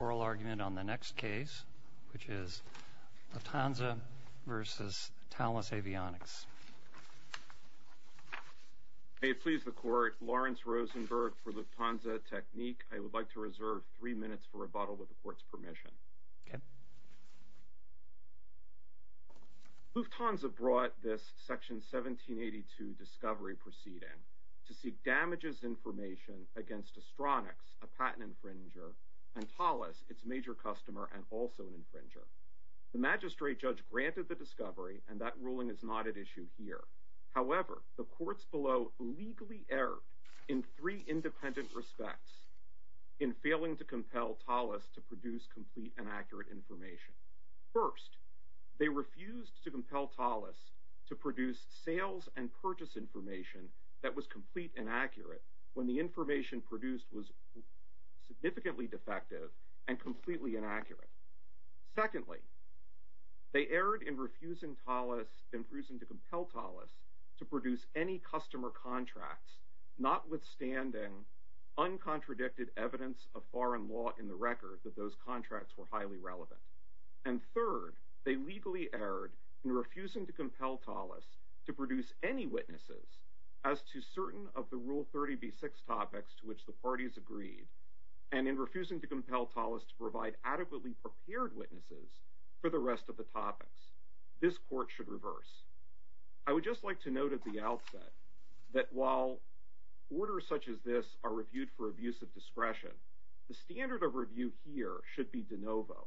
on the next case, which is Lufthansa v. Thales Avionics. May it please the Court, Lawrence Rosenberg for Lufthansa Technik. I would like to reserve three minutes for rebuttal with the Court's permission. Okay. Lufthansa brought this Section 1782 discovery proceeding to seek damages information against Astronix, a patent infringer, and Thales, its major customer and also an infringer. The Magistrate Judge granted the discovery, and that ruling is not at issue here. However, the Courts below legally erred in three independent respects in failing to compel Thales to produce complete and accurate information. First, they refused to compel Thales to produce sales and purchase information that was complete and accurate when the information produced was significantly defective and completely inaccurate. Secondly, they erred in refusing Thales, in refusing to compel Thales to produce any customer contracts, notwithstanding uncontradicted evidence of foreign law in the record that those contracts were highly relevant. And third, they legally erred in refusing to compel Thales to produce any witnesses as to certain of the Rule 30b-6 topics to which the parties agreed, and in refusing to compel Thales to provide adequately prepared witnesses for the rest of the topics. This Court should reverse. I would just like to note at the outset that while orders such as this are reviewed for abuse of discretion, the standard of review here should be de novo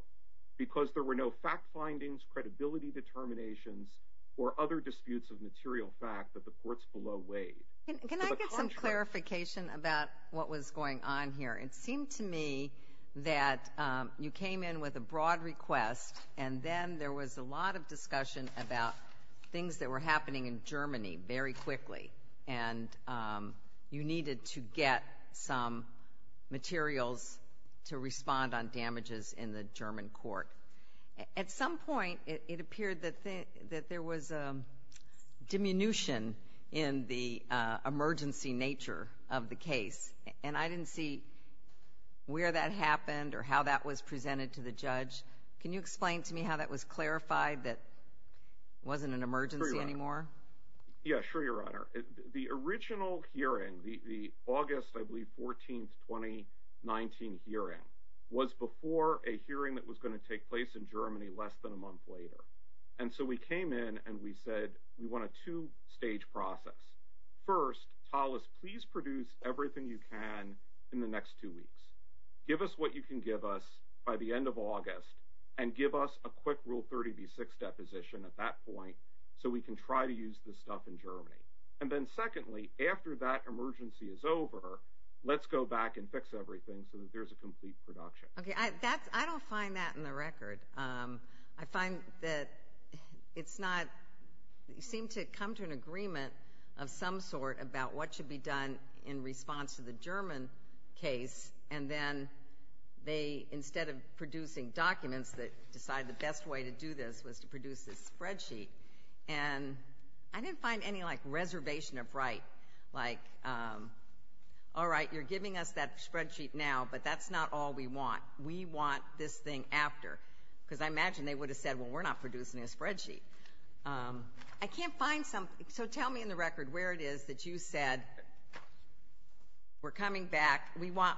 because there were no fact findings, credibility determinations, or other disputes of material fact that the courts below weighed. Can I get some clarification about what was going on here? It seemed to me that you came in with a broad request, and then there was a lot of discussion about things that were happening in Germany very quickly, and you needed to get some materials to respond on damages in the German court. At some point, it appeared that there was a diminution in the emergency nature of the case, and I didn't see where that happened or how that was presented to the judge. Can you explain to me how that was clarified that it wasn't an emergency anymore? Yeah, sure, Your Honor. The original hearing, the August, I believe, 14th, 2019 hearing, was before a hearing that was going to take place in Germany less than a month later. And so we came in and we said we want a two-stage process. First, Hollis, please produce everything you can in the next two weeks. Give us what you can give us by the end of August, and give us a quick Rule 30b-6 deposition at that point so we can try to use this stuff in Germany. And then secondly, after that emergency is over, let's go back and fix everything so that there's a complete production. Okay, I don't find that in the record. I find that it's not, you seem to come to an agreement of some sort about what should be done in response to the German case, and then they, instead of producing documents, they decided the best way to do this was to produce this spreadsheet. And I didn't find any, like, reservation of right. Like, all right, you're giving us that spreadsheet now, but that's not all we want. We want this thing after. Because I imagine they would have said, well, we're not producing a spreadsheet. I can't find something. So tell me in the record where it is that you said we're coming back, we want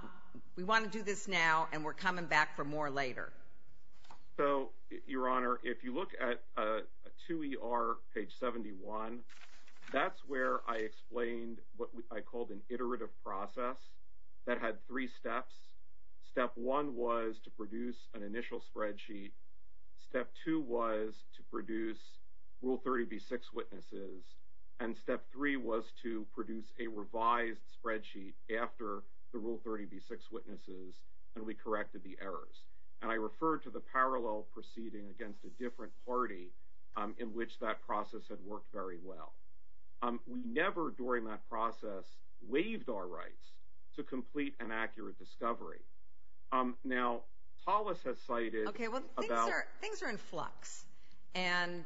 to do this now, and we're coming back for more later. So, Your Honor, if you look at 2ER, page 71, that's where I explained what I called an iterative process that had three steps. Step one was to produce an initial spreadsheet. Step two was to produce Rule 30B-6 witnesses. And step three was to produce a revised spreadsheet after the Rule 30B-6 witnesses, and we corrected the errors. And I referred to the parallel proceeding against a different party in which that process had worked very well. We never, during that process, waived our rights to complete an accurate discovery. Now, Tolis has cited about- Okay, well, things are in flux. And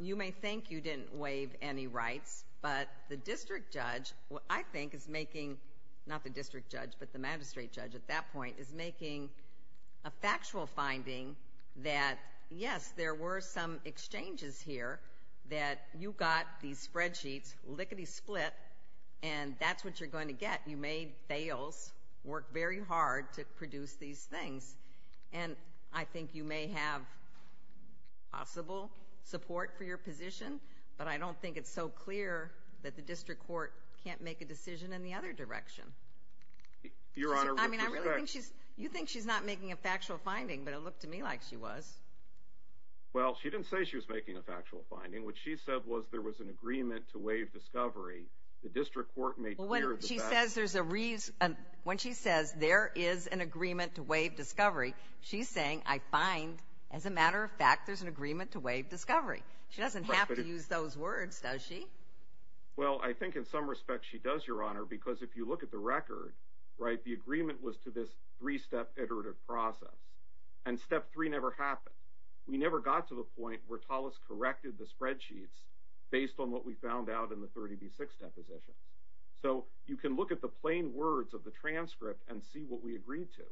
you may think you didn't waive any rights, but the district judge, I think is making, not the district judge, but the magistrate judge at that point is making a factual finding that, yes, there were some exchanges here that you got these spreadsheets lickety-split, and that's what you're going to get. You made fails, worked very hard to produce these things. And I think you may have possible support for your position, but I don't think it's so clear that the district court can't make a decision Your Honor, with respect- You think she's not making a factual finding, but it looked to me like she was. Well, she didn't say she was making a factual finding. What she said was there was an agreement to waive discovery. The district court made clear that- Well, when she says there's a reason, when she says there is an agreement to waive discovery, she's saying, I find, as a matter of fact, there's an agreement to waive discovery. She doesn't have to use those words, does she? Well, I think in some respects she does, Your Honor, because if you look at the record, right, the agreement was to this three-step iterative process. And step three never happened. We never got to the point where Tullis corrected the spreadsheets based on what we found out in the 30B6 depositions. So you can look at the plain words of the transcript and see what we agreed to.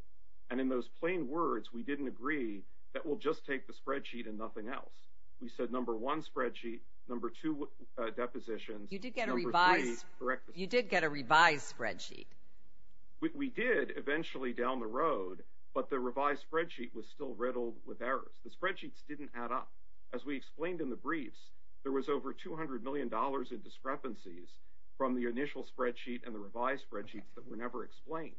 And in those plain words, we didn't agree that we'll just take the spreadsheet and nothing else. We said number one spreadsheet, number two depositions, number three- You did get a revised spreadsheet. We did eventually down the road, but the revised spreadsheet was still riddled with errors. The spreadsheets didn't add up. As we explained in the briefs, there was over $200 million in discrepancies from the initial spreadsheet and the revised spreadsheets that were never explained.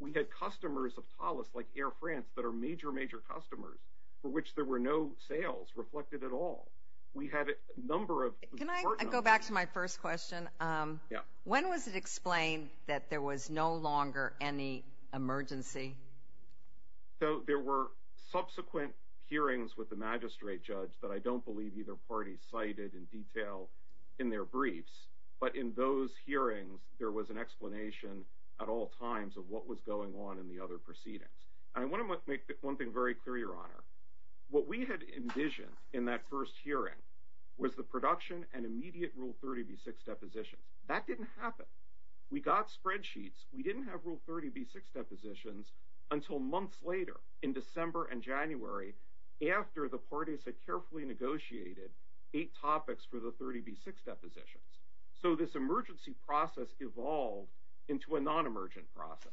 We had customers of Tullis, like Air France, that are major, major customers for which there were no sales reflected at all. We had a number of- Can I go back to my first question? Yeah. When was it explained that there was no longer any emergency? There were subsequent hearings with the magistrate judge that I don't believe either party cited in detail in their briefs. But in those hearings, there was an explanation at all times of what was going on in the other proceedings. I want to make one thing very clear, Your Honor. What we had envisioned in that first hearing was the production and immediate Rule 30B6 depositions. That didn't happen. We got spreadsheets. We didn't have Rule 30B6 depositions until months later in December and January after the parties had carefully negotiated eight topics for the 30B6 depositions. So this emergency process evolved into a non-emergent process,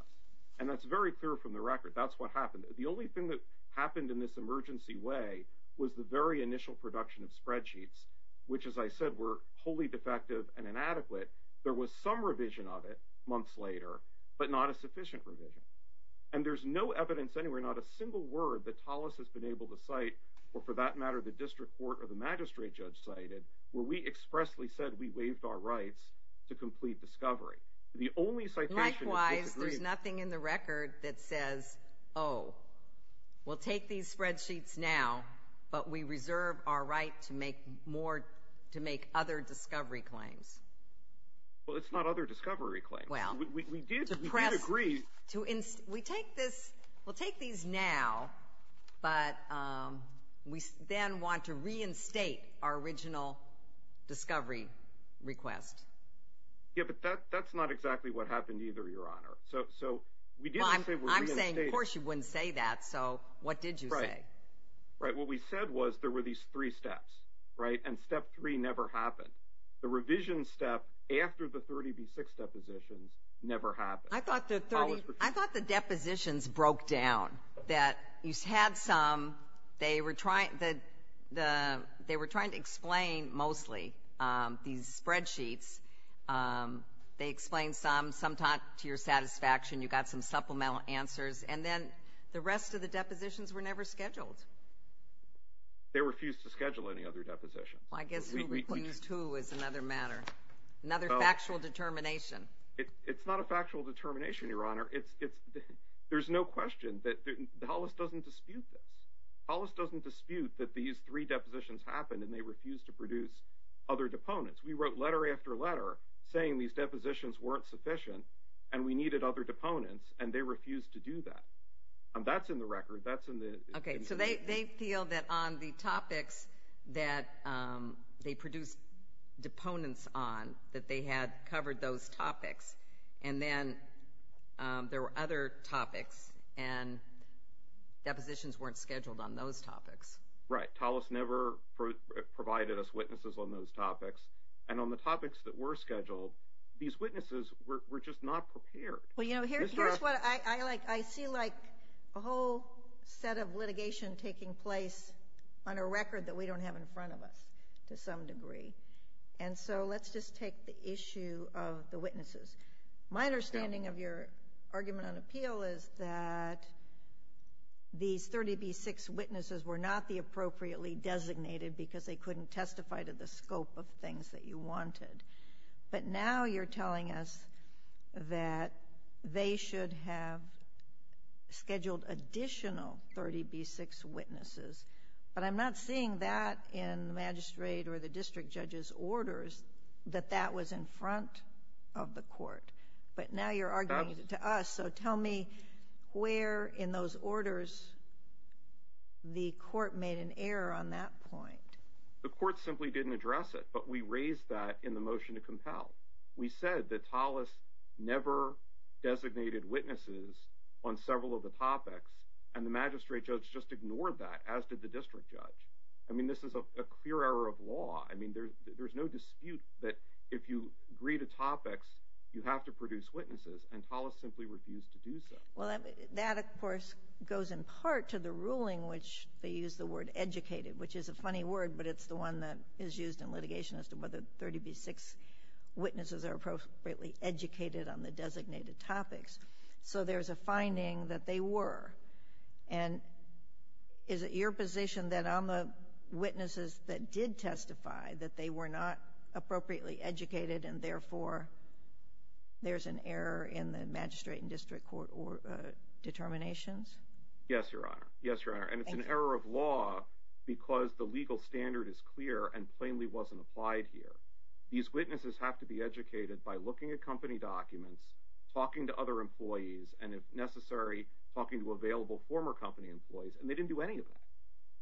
and that's very clear from the record. That's what happened. The only thing that happened in this emergency way was the very initial production of spreadsheets, which, as I said, were wholly defective and inadequate. There was some revision of it months later, but not a sufficient revision. And there's no evidence anywhere, not a single word, that Tolis has been able to cite or, for that matter, the district court or the magistrate judge cited where we expressly said we waived our rights to complete discovery. Likewise, there's nothing in the record that says, oh, we'll take these spreadsheets now, but we reserve our right to make other discovery claims. Well, it's not other discovery claims. We did agree. We'll take these now, but we then want to reinstate our original discovery request. Yeah, but that's not exactly what happened either, Your Honor. I'm saying, of course you wouldn't say that, so what did you say? Right. What we said was there were these three steps, right, and step three never happened. The revision step after the 30B6 depositions never happened. I thought the depositions broke down, that you had some, they were trying to explain mostly these spreadsheets. They explained some, some talked to your satisfaction, you got some supplemental answers, and then the rest of the depositions were never scheduled. They refused to schedule any other depositions. Well, I guess who refused who is another matter, another factual determination. It's not a factual determination, Your Honor. There's no question that Hollis doesn't dispute this. Hollis doesn't dispute that these three depositions happened and they refused to produce other deponents. We wrote letter after letter saying these depositions weren't sufficient and we needed other deponents, and they refused to do that. That's in the record. Okay, so they feel that on the topics that they produced deponents on, that they had covered those topics, and then there were other topics, and depositions weren't scheduled on those topics. Right. Hollis never provided us witnesses on those topics, and on the topics that were scheduled, these witnesses were just not prepared. Well, you know, here's what I like. I see, like, a whole set of litigation taking place on a record that we don't have in front of us to some degree, and so let's just take the issue of the witnesses. My understanding of your argument on appeal is that these 30B6 witnesses were not the appropriately designated because they couldn't testify to the scope of things that you wanted. But now you're telling us that they should have scheduled additional 30B6 witnesses, but I'm not seeing that in the magistrate or the district judge's orders that that was in front of the court. But now you're arguing to us, so tell me where in those orders the court made an error on that point. The court simply didn't address it, but we raised that in the motion to compel. We said that Hollis never designated witnesses on several of the topics, and the magistrate judge just ignored that, as did the district judge. I mean, this is a clear error of law. I mean, there's no dispute that if you agree to topics, you have to produce witnesses, and Hollis simply refused to do so. Yes, Your Honor. Yes, Your Honor. And it's an error of law because the legal standard is clear and plainly wasn't applied here. These witnesses have to be educated by looking at company documents, talking to other employees, and if necessary, talking to available former company employees, and they didn't do any of that.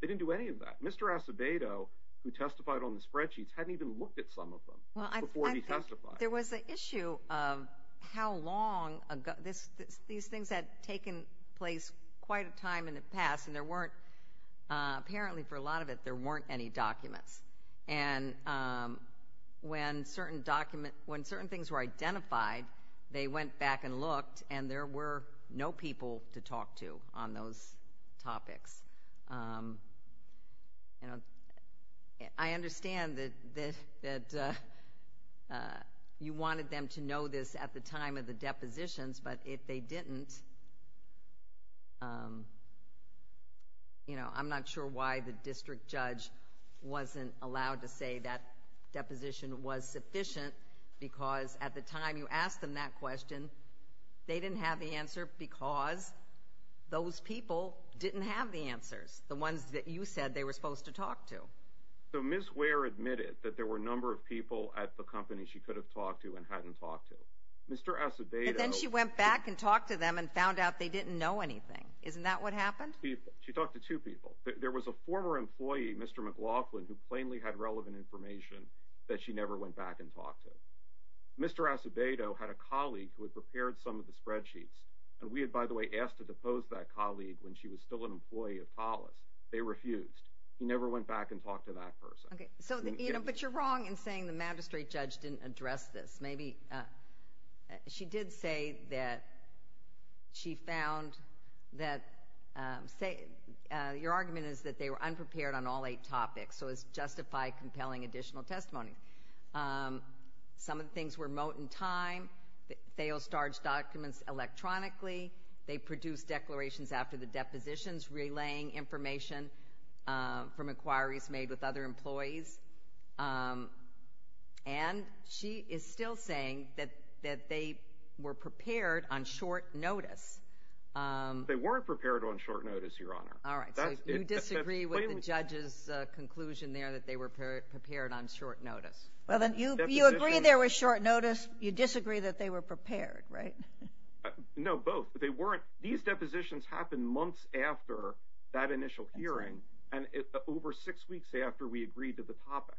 They didn't do any of that. Mr. Acevedo, who testified on the spreadsheets, hadn't even looked at some of them before he testified. There was an issue of how long these things had taken place quite a time in the past, and there weren't, apparently for a lot of it, there weren't any documents. And when certain things were identified, they went back and looked, and there were no people to talk to on those topics. I understand that you wanted them to know this at the time of the depositions, but if they didn't, I'm not sure why the district judge wasn't allowed to say that deposition was sufficient because at the time you asked them that question, they didn't have the answer because those people didn't have the answers, the ones that you said they were supposed to talk to. So Ms. Ware admitted that there were a number of people at the company she could have talked to and hadn't talked to. But then she went back and talked to them and found out they didn't know anything. Isn't that what happened? She talked to two people. There was a former employee, Mr. McLaughlin, who plainly had relevant information that she never went back and talked to. Mr. Acevedo had a colleague who had prepared some of the spreadsheets, and we had, by the way, asked to depose that colleague when she was still an employee of TALUS. They refused. He never went back and talked to that person. But you're wrong in saying the magistrate judge didn't address this. Maybe she did say that she found that your argument is that they were unprepared on all eight topics, so it's justified compelling additional testimony. Some of the things were moat and time, failed starge documents electronically. They produced declarations after the depositions, relaying information from inquiries made with other employees. And she is still saying that they were prepared on short notice. They weren't prepared on short notice, Your Honor. All right. So you disagree with the judge's conclusion there that they were prepared on short notice. Well, then, you agree there was short notice. You disagree that they were prepared, right? No, both. But they weren't. These depositions happened months after that initial hearing, and over six weeks after we agreed to the topics.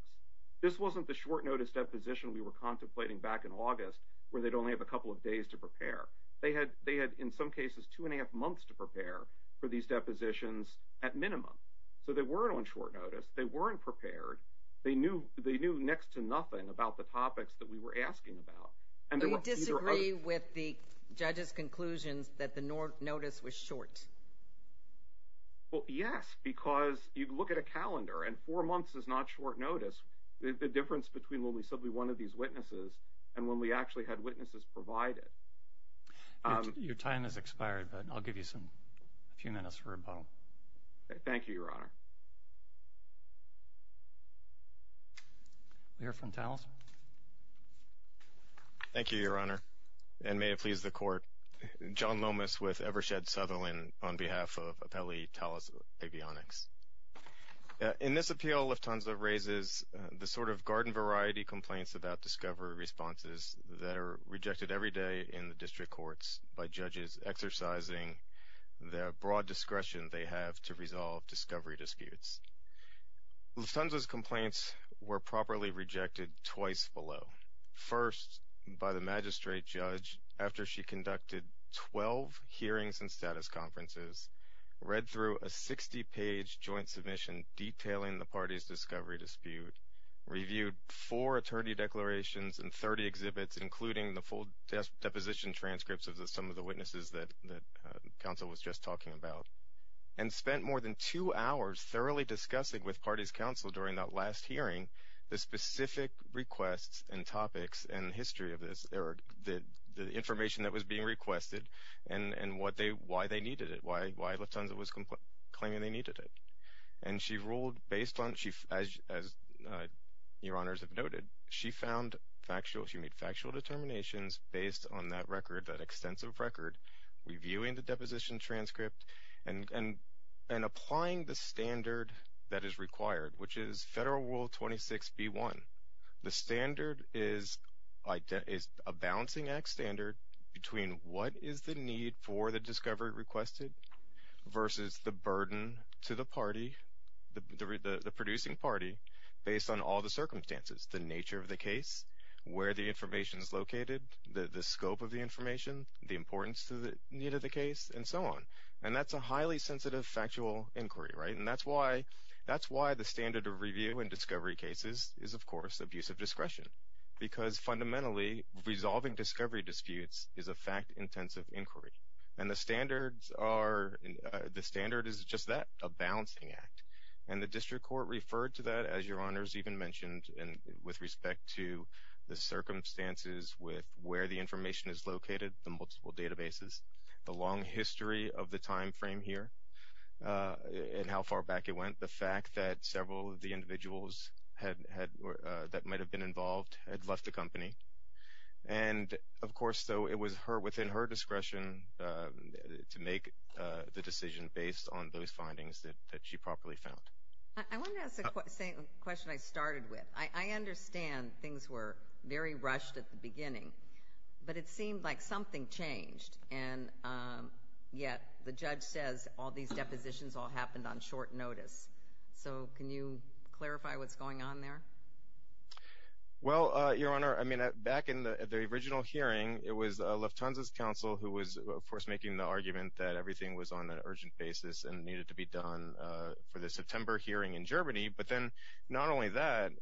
This wasn't the short notice deposition we were contemplating back in August, where they'd only have a couple of days to prepare. They had, in some cases, two and a half months to prepare for these depositions at minimum. So they weren't on short notice. They weren't prepared. They knew next to nothing about the topics that we were asking about. So you disagree with the judge's conclusions that the notice was short? Well, yes, because you look at a calendar, and four months is not short notice. The difference between when we said we wanted these witnesses and when we actually had witnesses provided. Your time has expired, but I'll give you a few minutes for rebuttal. Thank you, Your Honor. We'll hear from Taliesin. Thank you, Your Honor, and may it please the Court. John Lomas with Evershed Sutherland on behalf of Apelli Taliesin Avionics. In this appeal, Lufthansa raises the sort of garden-variety complaints about discovery responses that are rejected every day in the district courts by judges exercising the broad discretion they have to resolve discovery disputes. Lufthansa's complaints were properly rejected twice below. First, by the magistrate judge, after she conducted 12 hearings and status conferences, read through a 60-page joint submission detailing the party's discovery dispute, reviewed four attorney declarations and 30 exhibits, including the full deposition transcripts of some of the witnesses that counsel was just talking about, and spent more than two hours thoroughly discussing with party's counsel during that last hearing the specific requests and topics and history of this, or the information that was being requested and why they needed it, why Lufthansa was claiming they needed it. And she ruled based on, as Your Honors have noted, she found factual, she made factual determinations based on that record, that extensive record, reviewing the deposition transcript and applying the standard that is required, which is Federal Rule 26b-1. The standard is a balancing act standard between what is the need for the discovery requested versus the burden to the party, the producing party, based on all the circumstances, the nature of the case, where the information is located, the scope of the information, the importance to the need of the case, and so on. And that's a highly sensitive factual inquiry, right? And that's why the standard of review in discovery cases is, of course, abusive discretion, because fundamentally resolving discovery disputes is a fact-intensive inquiry. And the standard is just that, a balancing act. And the district court referred to that, as Your Honors even mentioned, with respect to the circumstances with where the information is located, the multiple databases, the long history of the time frame here and how far back it went, the fact that several of the individuals that might have been involved had left the company. And, of course, though, it was within her discretion to make the decision based on those findings that she properly found. I want to ask the same question I started with. I understand things were very rushed at the beginning, but it seemed like something changed, and yet the judge says all these depositions all happened on short notice. So can you clarify what's going on there? Well, Your Honor, I mean, back in the original hearing, it was Lufthansa's counsel who was, of course, making the argument that everything was on an urgent basis and needed to be done for the September hearing in Germany. But then not only that,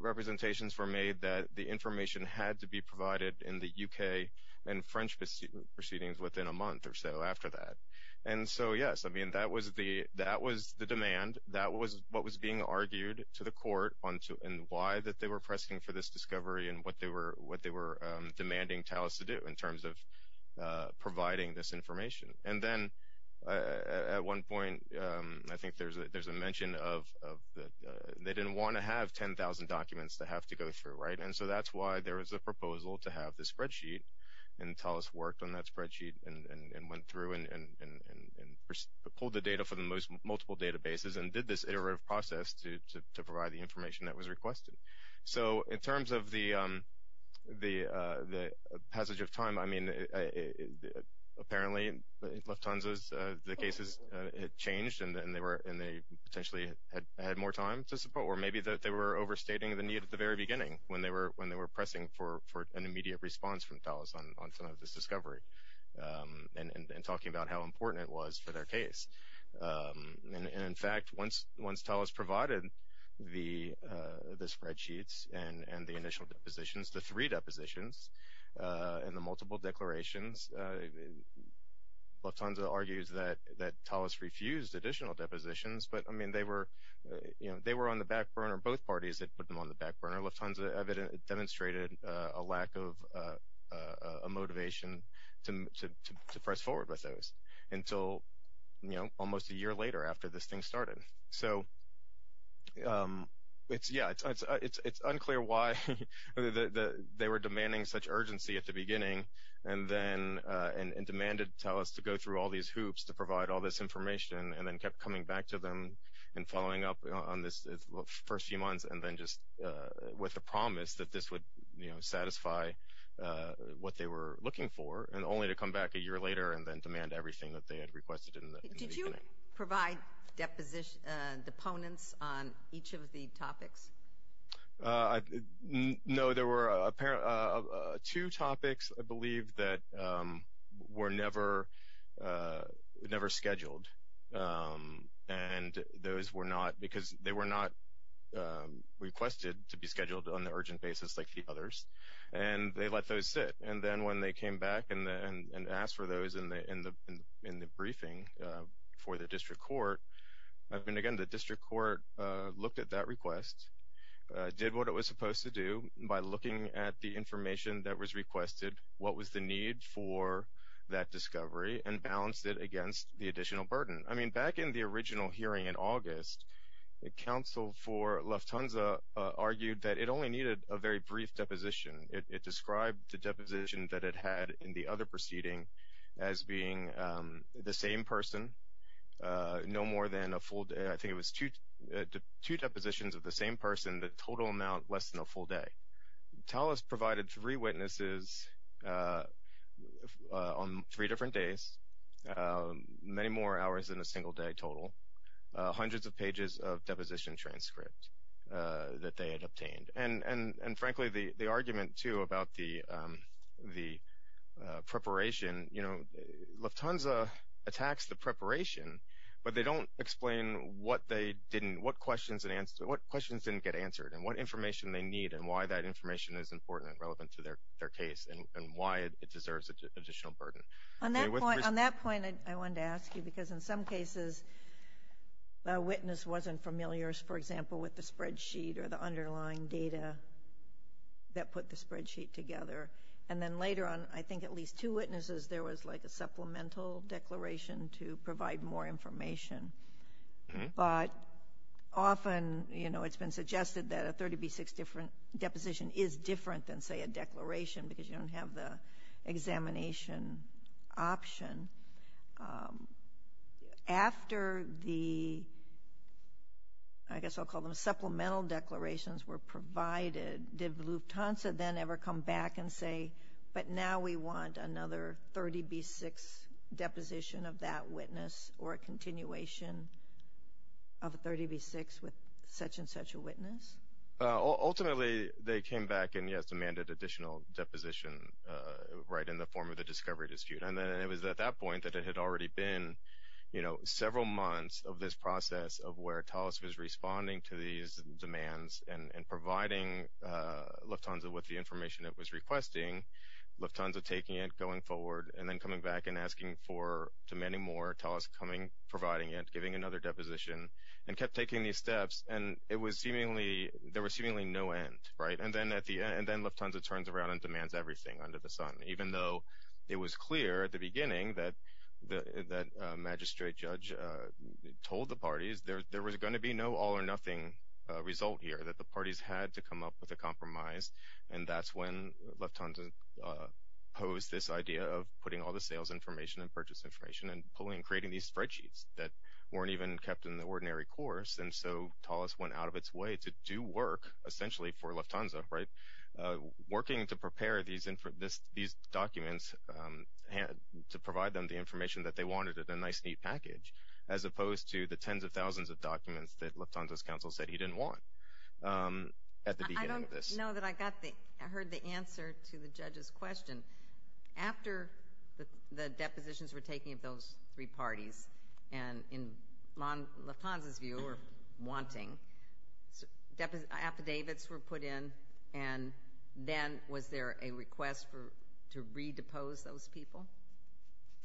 representations were made that the information had to be provided in the U.K. and French proceedings within a month or so after that. And so, yes, I mean, that was the demand. That was what was being argued to the court on why they were pressing for this discovery and what they were demanding TALIS to do in terms of providing this information. And then at one point, I think there's a mention of they didn't want to have 10,000 documents to have to go through. And so that's why there was a proposal to have the spreadsheet, and TALIS worked on that spreadsheet and went through and pulled the data from multiple databases and did this iterative process to provide the information that was requested. So in terms of the passage of time, I mean, apparently Lufthansa's cases had changed and they potentially had more time to support, or maybe that they were overstating the need at the very beginning when they were pressing for an immediate response from TALIS on some of this discovery and talking about how important it was for their case. And in fact, once TALIS provided the spreadsheets and the initial depositions, the three depositions and the multiple declarations, Lufthansa argues that TALIS refused additional depositions, but I mean, they were on the back burner, both parties had put them on the back burner. Lufthansa demonstrated a lack of motivation to press forward with those until almost a year later after this thing started. So it's unclear why they were demanding such urgency at the beginning and demanded TALIS to go through all these hoops to provide all this information and then kept coming back to them and following up on this the first few months and then just with the promise that this would satisfy what they were looking for and only to come back a year later and then demand everything that they had requested in the beginning. Did you provide deponents on each of the topics? No, there were two topics, I believe, that were never scheduled and those were not because they were not requested to be scheduled on the urgent basis like the others. And they let those sit. And then when they came back and asked for those in the briefing for the district court, I mean, again, the district court looked at that request, did what it was supposed to do by looking at the information that was requested, what was the need for that discovery and balanced it against the additional burden. I mean, back in the original hearing in August, the counsel for Lufthansa argued that it only needed a very brief deposition. It described the deposition that it had in the other proceeding as being the same person, no more than a full day. I think it was two depositions of the same person, the total amount less than a full day. TALOS provided three witnesses on three different days, many more hours than a single day total, hundreds of pages of deposition transcript that they had obtained. And frankly, the argument, too, about the preparation, you know, Lufthansa attacks the preparation, but they don't explain what questions didn't get answered and what information they need and why that information is important and relevant to their case and why it deserves additional burden. On that point, I wanted to ask you because in some cases a witness wasn't familiar, for example, with the spreadsheet or the underlying data that put the spreadsheet together. And then later on, I think at least two witnesses, there was like a supplemental declaration to provide more information. But often, you know, it's been suggested that a 30B6 deposition is different than, say, a declaration because you don't have the examination option. After the, I guess I'll call them supplemental declarations were provided, did Lufthansa then ever come back and say, but now we want another 30B6 deposition of that witness or a continuation of a 30B6 with such and such a witness? Ultimately, they came back and, yes, demanded additional deposition right in the form of the discovery dispute. And then it was at that point that it had already been, you know, several months of this process of where TALIS was responding to these demands and providing Lufthansa with the information it was requesting, Lufthansa taking it, going forward, and then coming back and asking for, demanding more, TALIS coming, providing it, giving another deposition, and kept taking these steps. And it was seemingly, there was seemingly no end, right? And then at the end, Lufthansa turns around and demands everything under the sun, even though it was clear at the beginning that the magistrate judge told the parties there was going to be no all or nothing result here, that the parties had to come up with a compromise. And that's when Lufthansa posed this idea of putting all the sales information and purchase information and pulling, creating these spreadsheets that weren't even kept in the ordinary course. And so TALIS went out of its way to do work essentially for Lufthansa, right? These documents, to provide them the information that they wanted in a nice, neat package, as opposed to the tens of thousands of documents that Lufthansa's counsel said he didn't want at the beginning of this. I don't know that I got the, I heard the answer to the judge's question. After the depositions were taken of those three parties, and in Lufthansa's view, or wanting, affidavits were put in, and then was there a request to redepose those people?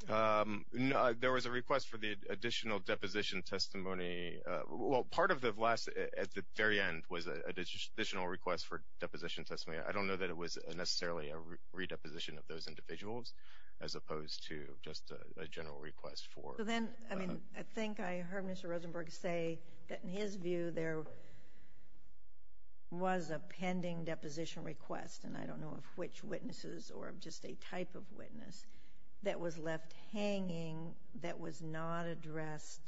No, there was a request for the additional deposition testimony. Well, part of the last, at the very end, was an additional request for deposition testimony. I don't know that it was necessarily a redeposition of those individuals, as opposed to just a general request for. Well, then, I mean, I think I heard Mr. Rosenberg say that, in his view, there was a pending deposition request, and I don't know of which witnesses or just a type of witness, that was left hanging, that was not addressed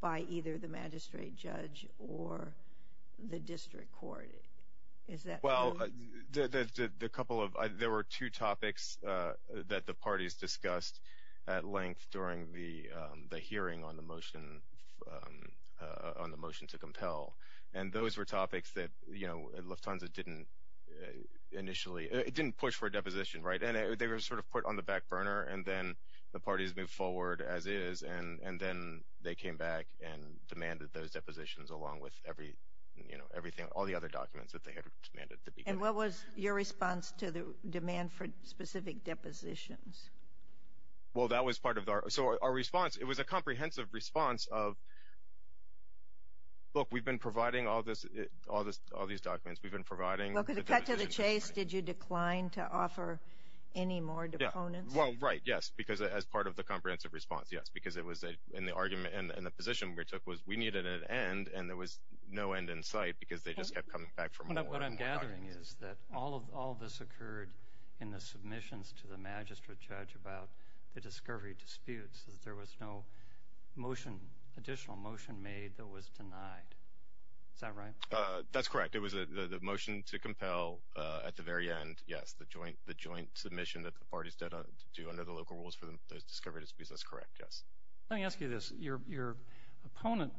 by either the magistrate judge or the district court. Well, there were two topics that the parties discussed at length during the hearing on the motion to compel, and those were topics that, you know, Lufthansa didn't initially, it didn't push for a deposition, right? And they were sort of put on the back burner, and then the parties moved forward as is, and then they came back and demanded those depositions along with everything, all the other documents that they had demanded. And what was your response to the demand for specific depositions? Well, that was part of our, so our response, it was a comprehensive response of, look, we've been providing all these documents, we've been providing. Well, because of the cut to the chase, did you decline to offer any more deponents? Well, right, yes, because as part of the comprehensive response, yes, because it was in the argument, and the position we took was we needed an end, and there was no end in sight because they just kept coming back for more. What I'm gathering is that all of this occurred in the submissions to the magistrate judge about the discovery disputes, that there was no motion, additional motion made that was denied. Is that right? That's correct. In fact, it was the motion to compel at the very end, yes, the joint submission that the parties had to do under the local rules for the discovery disputes. That's correct, yes. Let me ask you this. Your opponent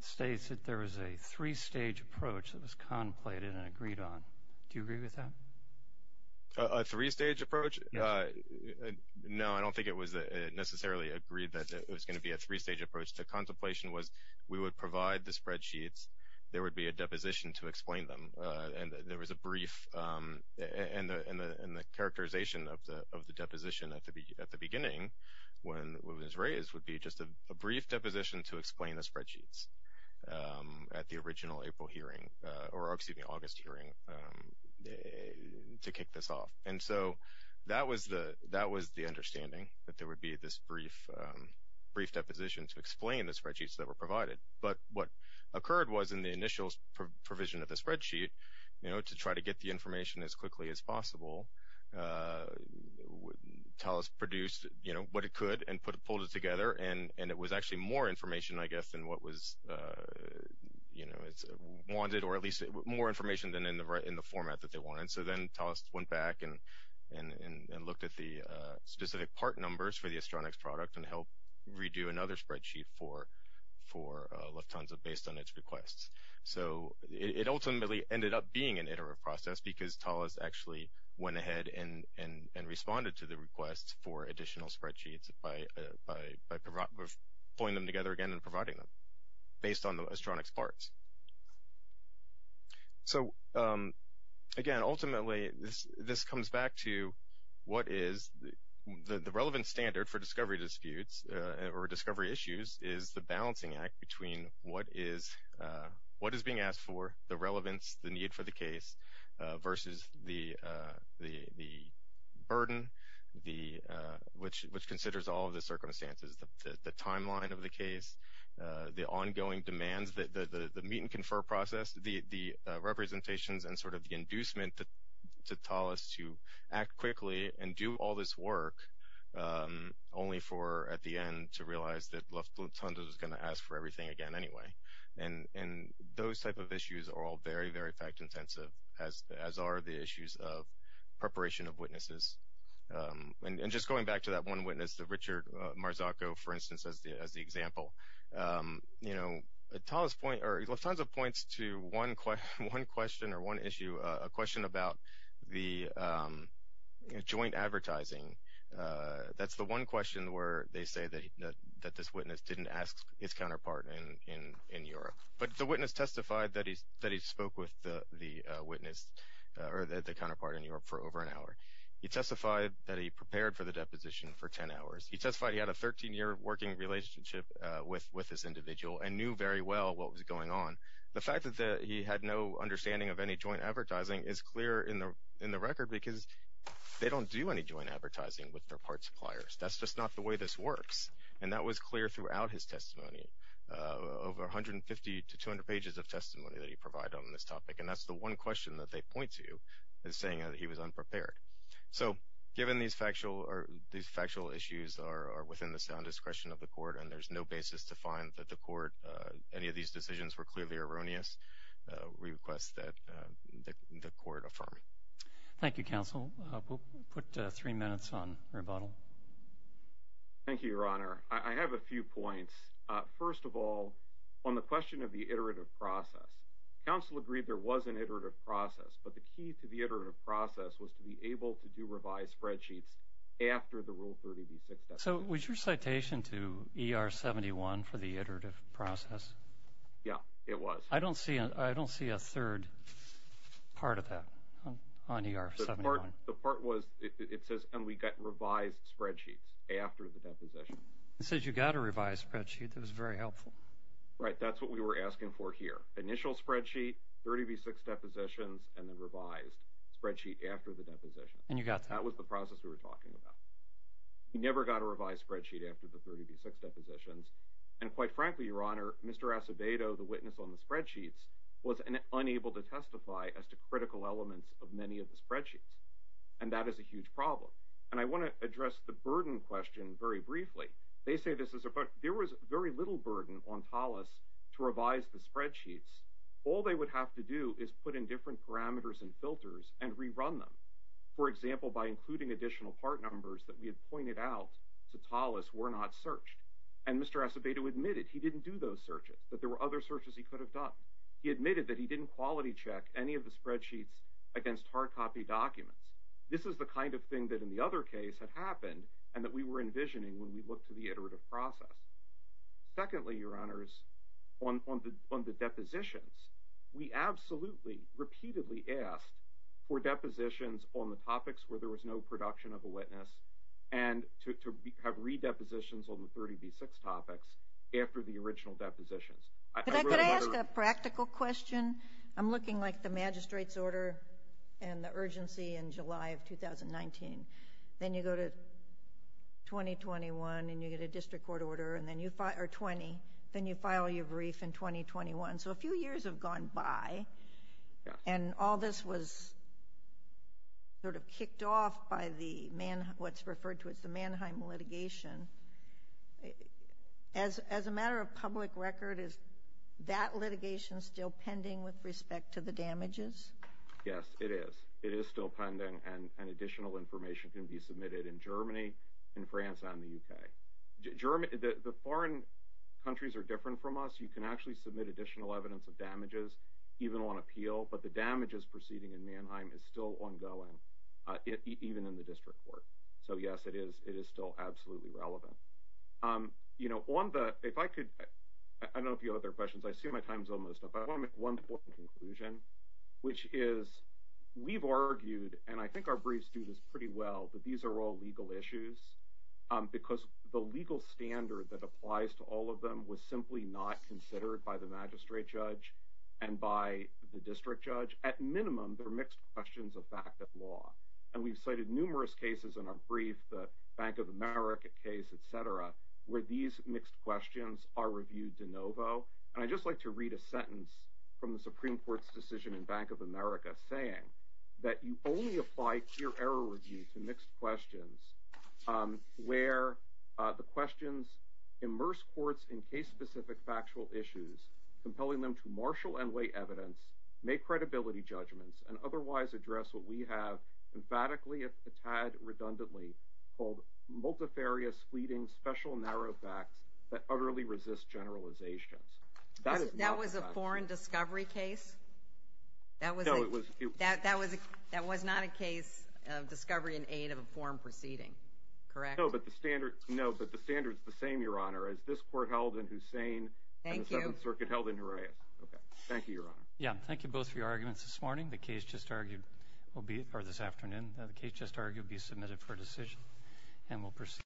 states that there was a three-stage approach that was contemplated and agreed on. Do you agree with that? A three-stage approach? Yes. No, I don't think it was necessarily agreed that it was going to be a three-stage approach. The contemplation was we would provide the spreadsheets, there would be a deposition to explain them, and there was a brief, and the characterization of the deposition at the beginning, when it was raised, would be just a brief deposition to explain the spreadsheets at the original April hearing, or excuse me, August hearing, to kick this off. And so that was the understanding, that there would be this brief deposition to explain the spreadsheets that were provided. But what occurred was in the initial provision of the spreadsheet, you know, to try to get the information as quickly as possible, TALIS produced, you know, what it could and pulled it together, and it was actually more information, I guess, than what was, you know, wanted, or at least more information than in the format that they wanted. So then TALIS went back and looked at the specific part numbers for the Astronex product and helped redo another spreadsheet for Lufthansa based on its requests. So it ultimately ended up being an iterative process because TALIS actually went ahead and responded to the request for additional spreadsheets by pulling them together again and providing them based on the Astronex parts. So again, ultimately, this comes back to what is the relevant standard for discovery disputes or discovery issues is the balancing act between what is being asked for, the relevance, the need for the case versus the burden, which considers all of the circumstances, the timeline of the case, the ongoing demands, the meet and confer process, the representations, and sort of the inducement to TALIS to act quickly and do all this work only for at the end to realize that Lufthansa is going to ask for everything again anyway. And those type of issues are all very, very fact intensive, as are the issues of preparation of witnesses. And just going back to that one witness, Richard Marzacco, for instance, as the example, you know, Lufthansa points to one question or one issue, a question about the joint advertising. That's the one question where they say that this witness didn't ask his counterpart in Europe. But the witness testified that he spoke with the witness or the counterpart in Europe for over an hour. He testified that he prepared for the deposition for 10 hours. He testified he had a 13-year working relationship with this individual and knew very well what was going on. The fact that he had no understanding of any joint advertising is clear in the record because they don't do any joint advertising with their part suppliers. That's just not the way this works. And that was clear throughout his testimony, over 150 to 200 pages of testimony that he provided on this topic. And that's the one question that they point to is saying that he was unprepared. So given these factual issues are within the sound discretion of the court and there's no basis to find that the court, any of these decisions were clearly erroneous, we request that the court affirm. Thank you, Counsel. We'll put three minutes on rebuttal. Thank you, Your Honor. I have a few points. First of all, on the question of the iterative process, counsel agreed there was an iterative process, but the key to the iterative process was to be able to do revised spreadsheets after the Rule 30b-6 deposition. So was your citation to ER-71 for the iterative process? Yeah, it was. I don't see a third part of that on ER-71. The part was it says, and we got revised spreadsheets after the deposition. It says you got a revised spreadsheet. That was very helpful. Right. That's what we were asking for here. Initial spreadsheet, 30b-6 depositions, and then revised spreadsheet after the deposition. And you got that. That was the process we were talking about. You never got a revised spreadsheet after the 30b-6 depositions, and quite frankly, Your Honor, Mr. Acevedo, the witness on the spreadsheets, was unable to testify as to critical elements of many of the spreadsheets, and that is a huge problem. And I want to address the burden question very briefly. There was very little burden on TALUS to revise the spreadsheets. All they would have to do is put in different parameters and filters and rerun them. For example, by including additional part numbers that we had pointed out to TALUS were not searched. And Mr. Acevedo admitted he didn't do those searches, that there were other searches he could have done. He admitted that he didn't quality check any of the spreadsheets against hard copy documents. This is the kind of thing that in the other case had happened and that we were envisioning when we looked at the iterative process. Secondly, Your Honors, on the depositions, we absolutely repeatedly asked for depositions on the topics where there was no production of a witness and to have re-depositions on the 30b-6 topics after the original depositions. Could I ask a practical question? I'm looking like the magistrate's order and the urgency in July of 2019. Then you go to 2021 and you get a district court order, or 20, then you file your brief in 2021. So a few years have gone by and all this was sort of kicked off by what's referred to as the Mannheim litigation. As a matter of public record, is that litigation still pending with respect to the damages? Yes, it is. It is still pending and additional information can be submitted in Germany, in France, and in the UK. The foreign countries are different from us. You can actually submit additional evidence of damages even on appeal, but the damages proceeding in Mannheim is still ongoing, even in the district court. So yes, it is still absolutely relevant. I don't know if you have other questions. I see my time is almost up. I want to make one conclusion, which is we've argued, and I think our briefs do this pretty well, that these are all legal issues because the legal standard that applies to all of them was simply not considered by the magistrate judge and by the district judge. At minimum, they're mixed questions of fact and law. We've cited numerous cases in our brief, the Bank of America case, etc., where these mixed questions are reviewed de novo. And I'd just like to read a sentence from the Supreme Court's decision in Bank of America saying that you only apply clear error review to mixed questions, where the questions immerse courts in case-specific factual issues, compelling them to marshal and weigh evidence, make credibility judgments, and otherwise address what we have emphatically, if a tad redundantly, called multifarious, fleeting, special, narrow facts that utterly resist generalizations. That is not the case. That was a foreign discovery case? No, it was a few. That was not a case of discovery in aid of a foreign proceeding, correct? No, but the standard is the same, Your Honor, as this court held in Hussein. Thank you. And the Seventh Circuit held in Jerez. Okay. Thank you, Your Honor. Yeah, thank you both for your arguments this morning. The case just argued will be submitted for decision and will proceed.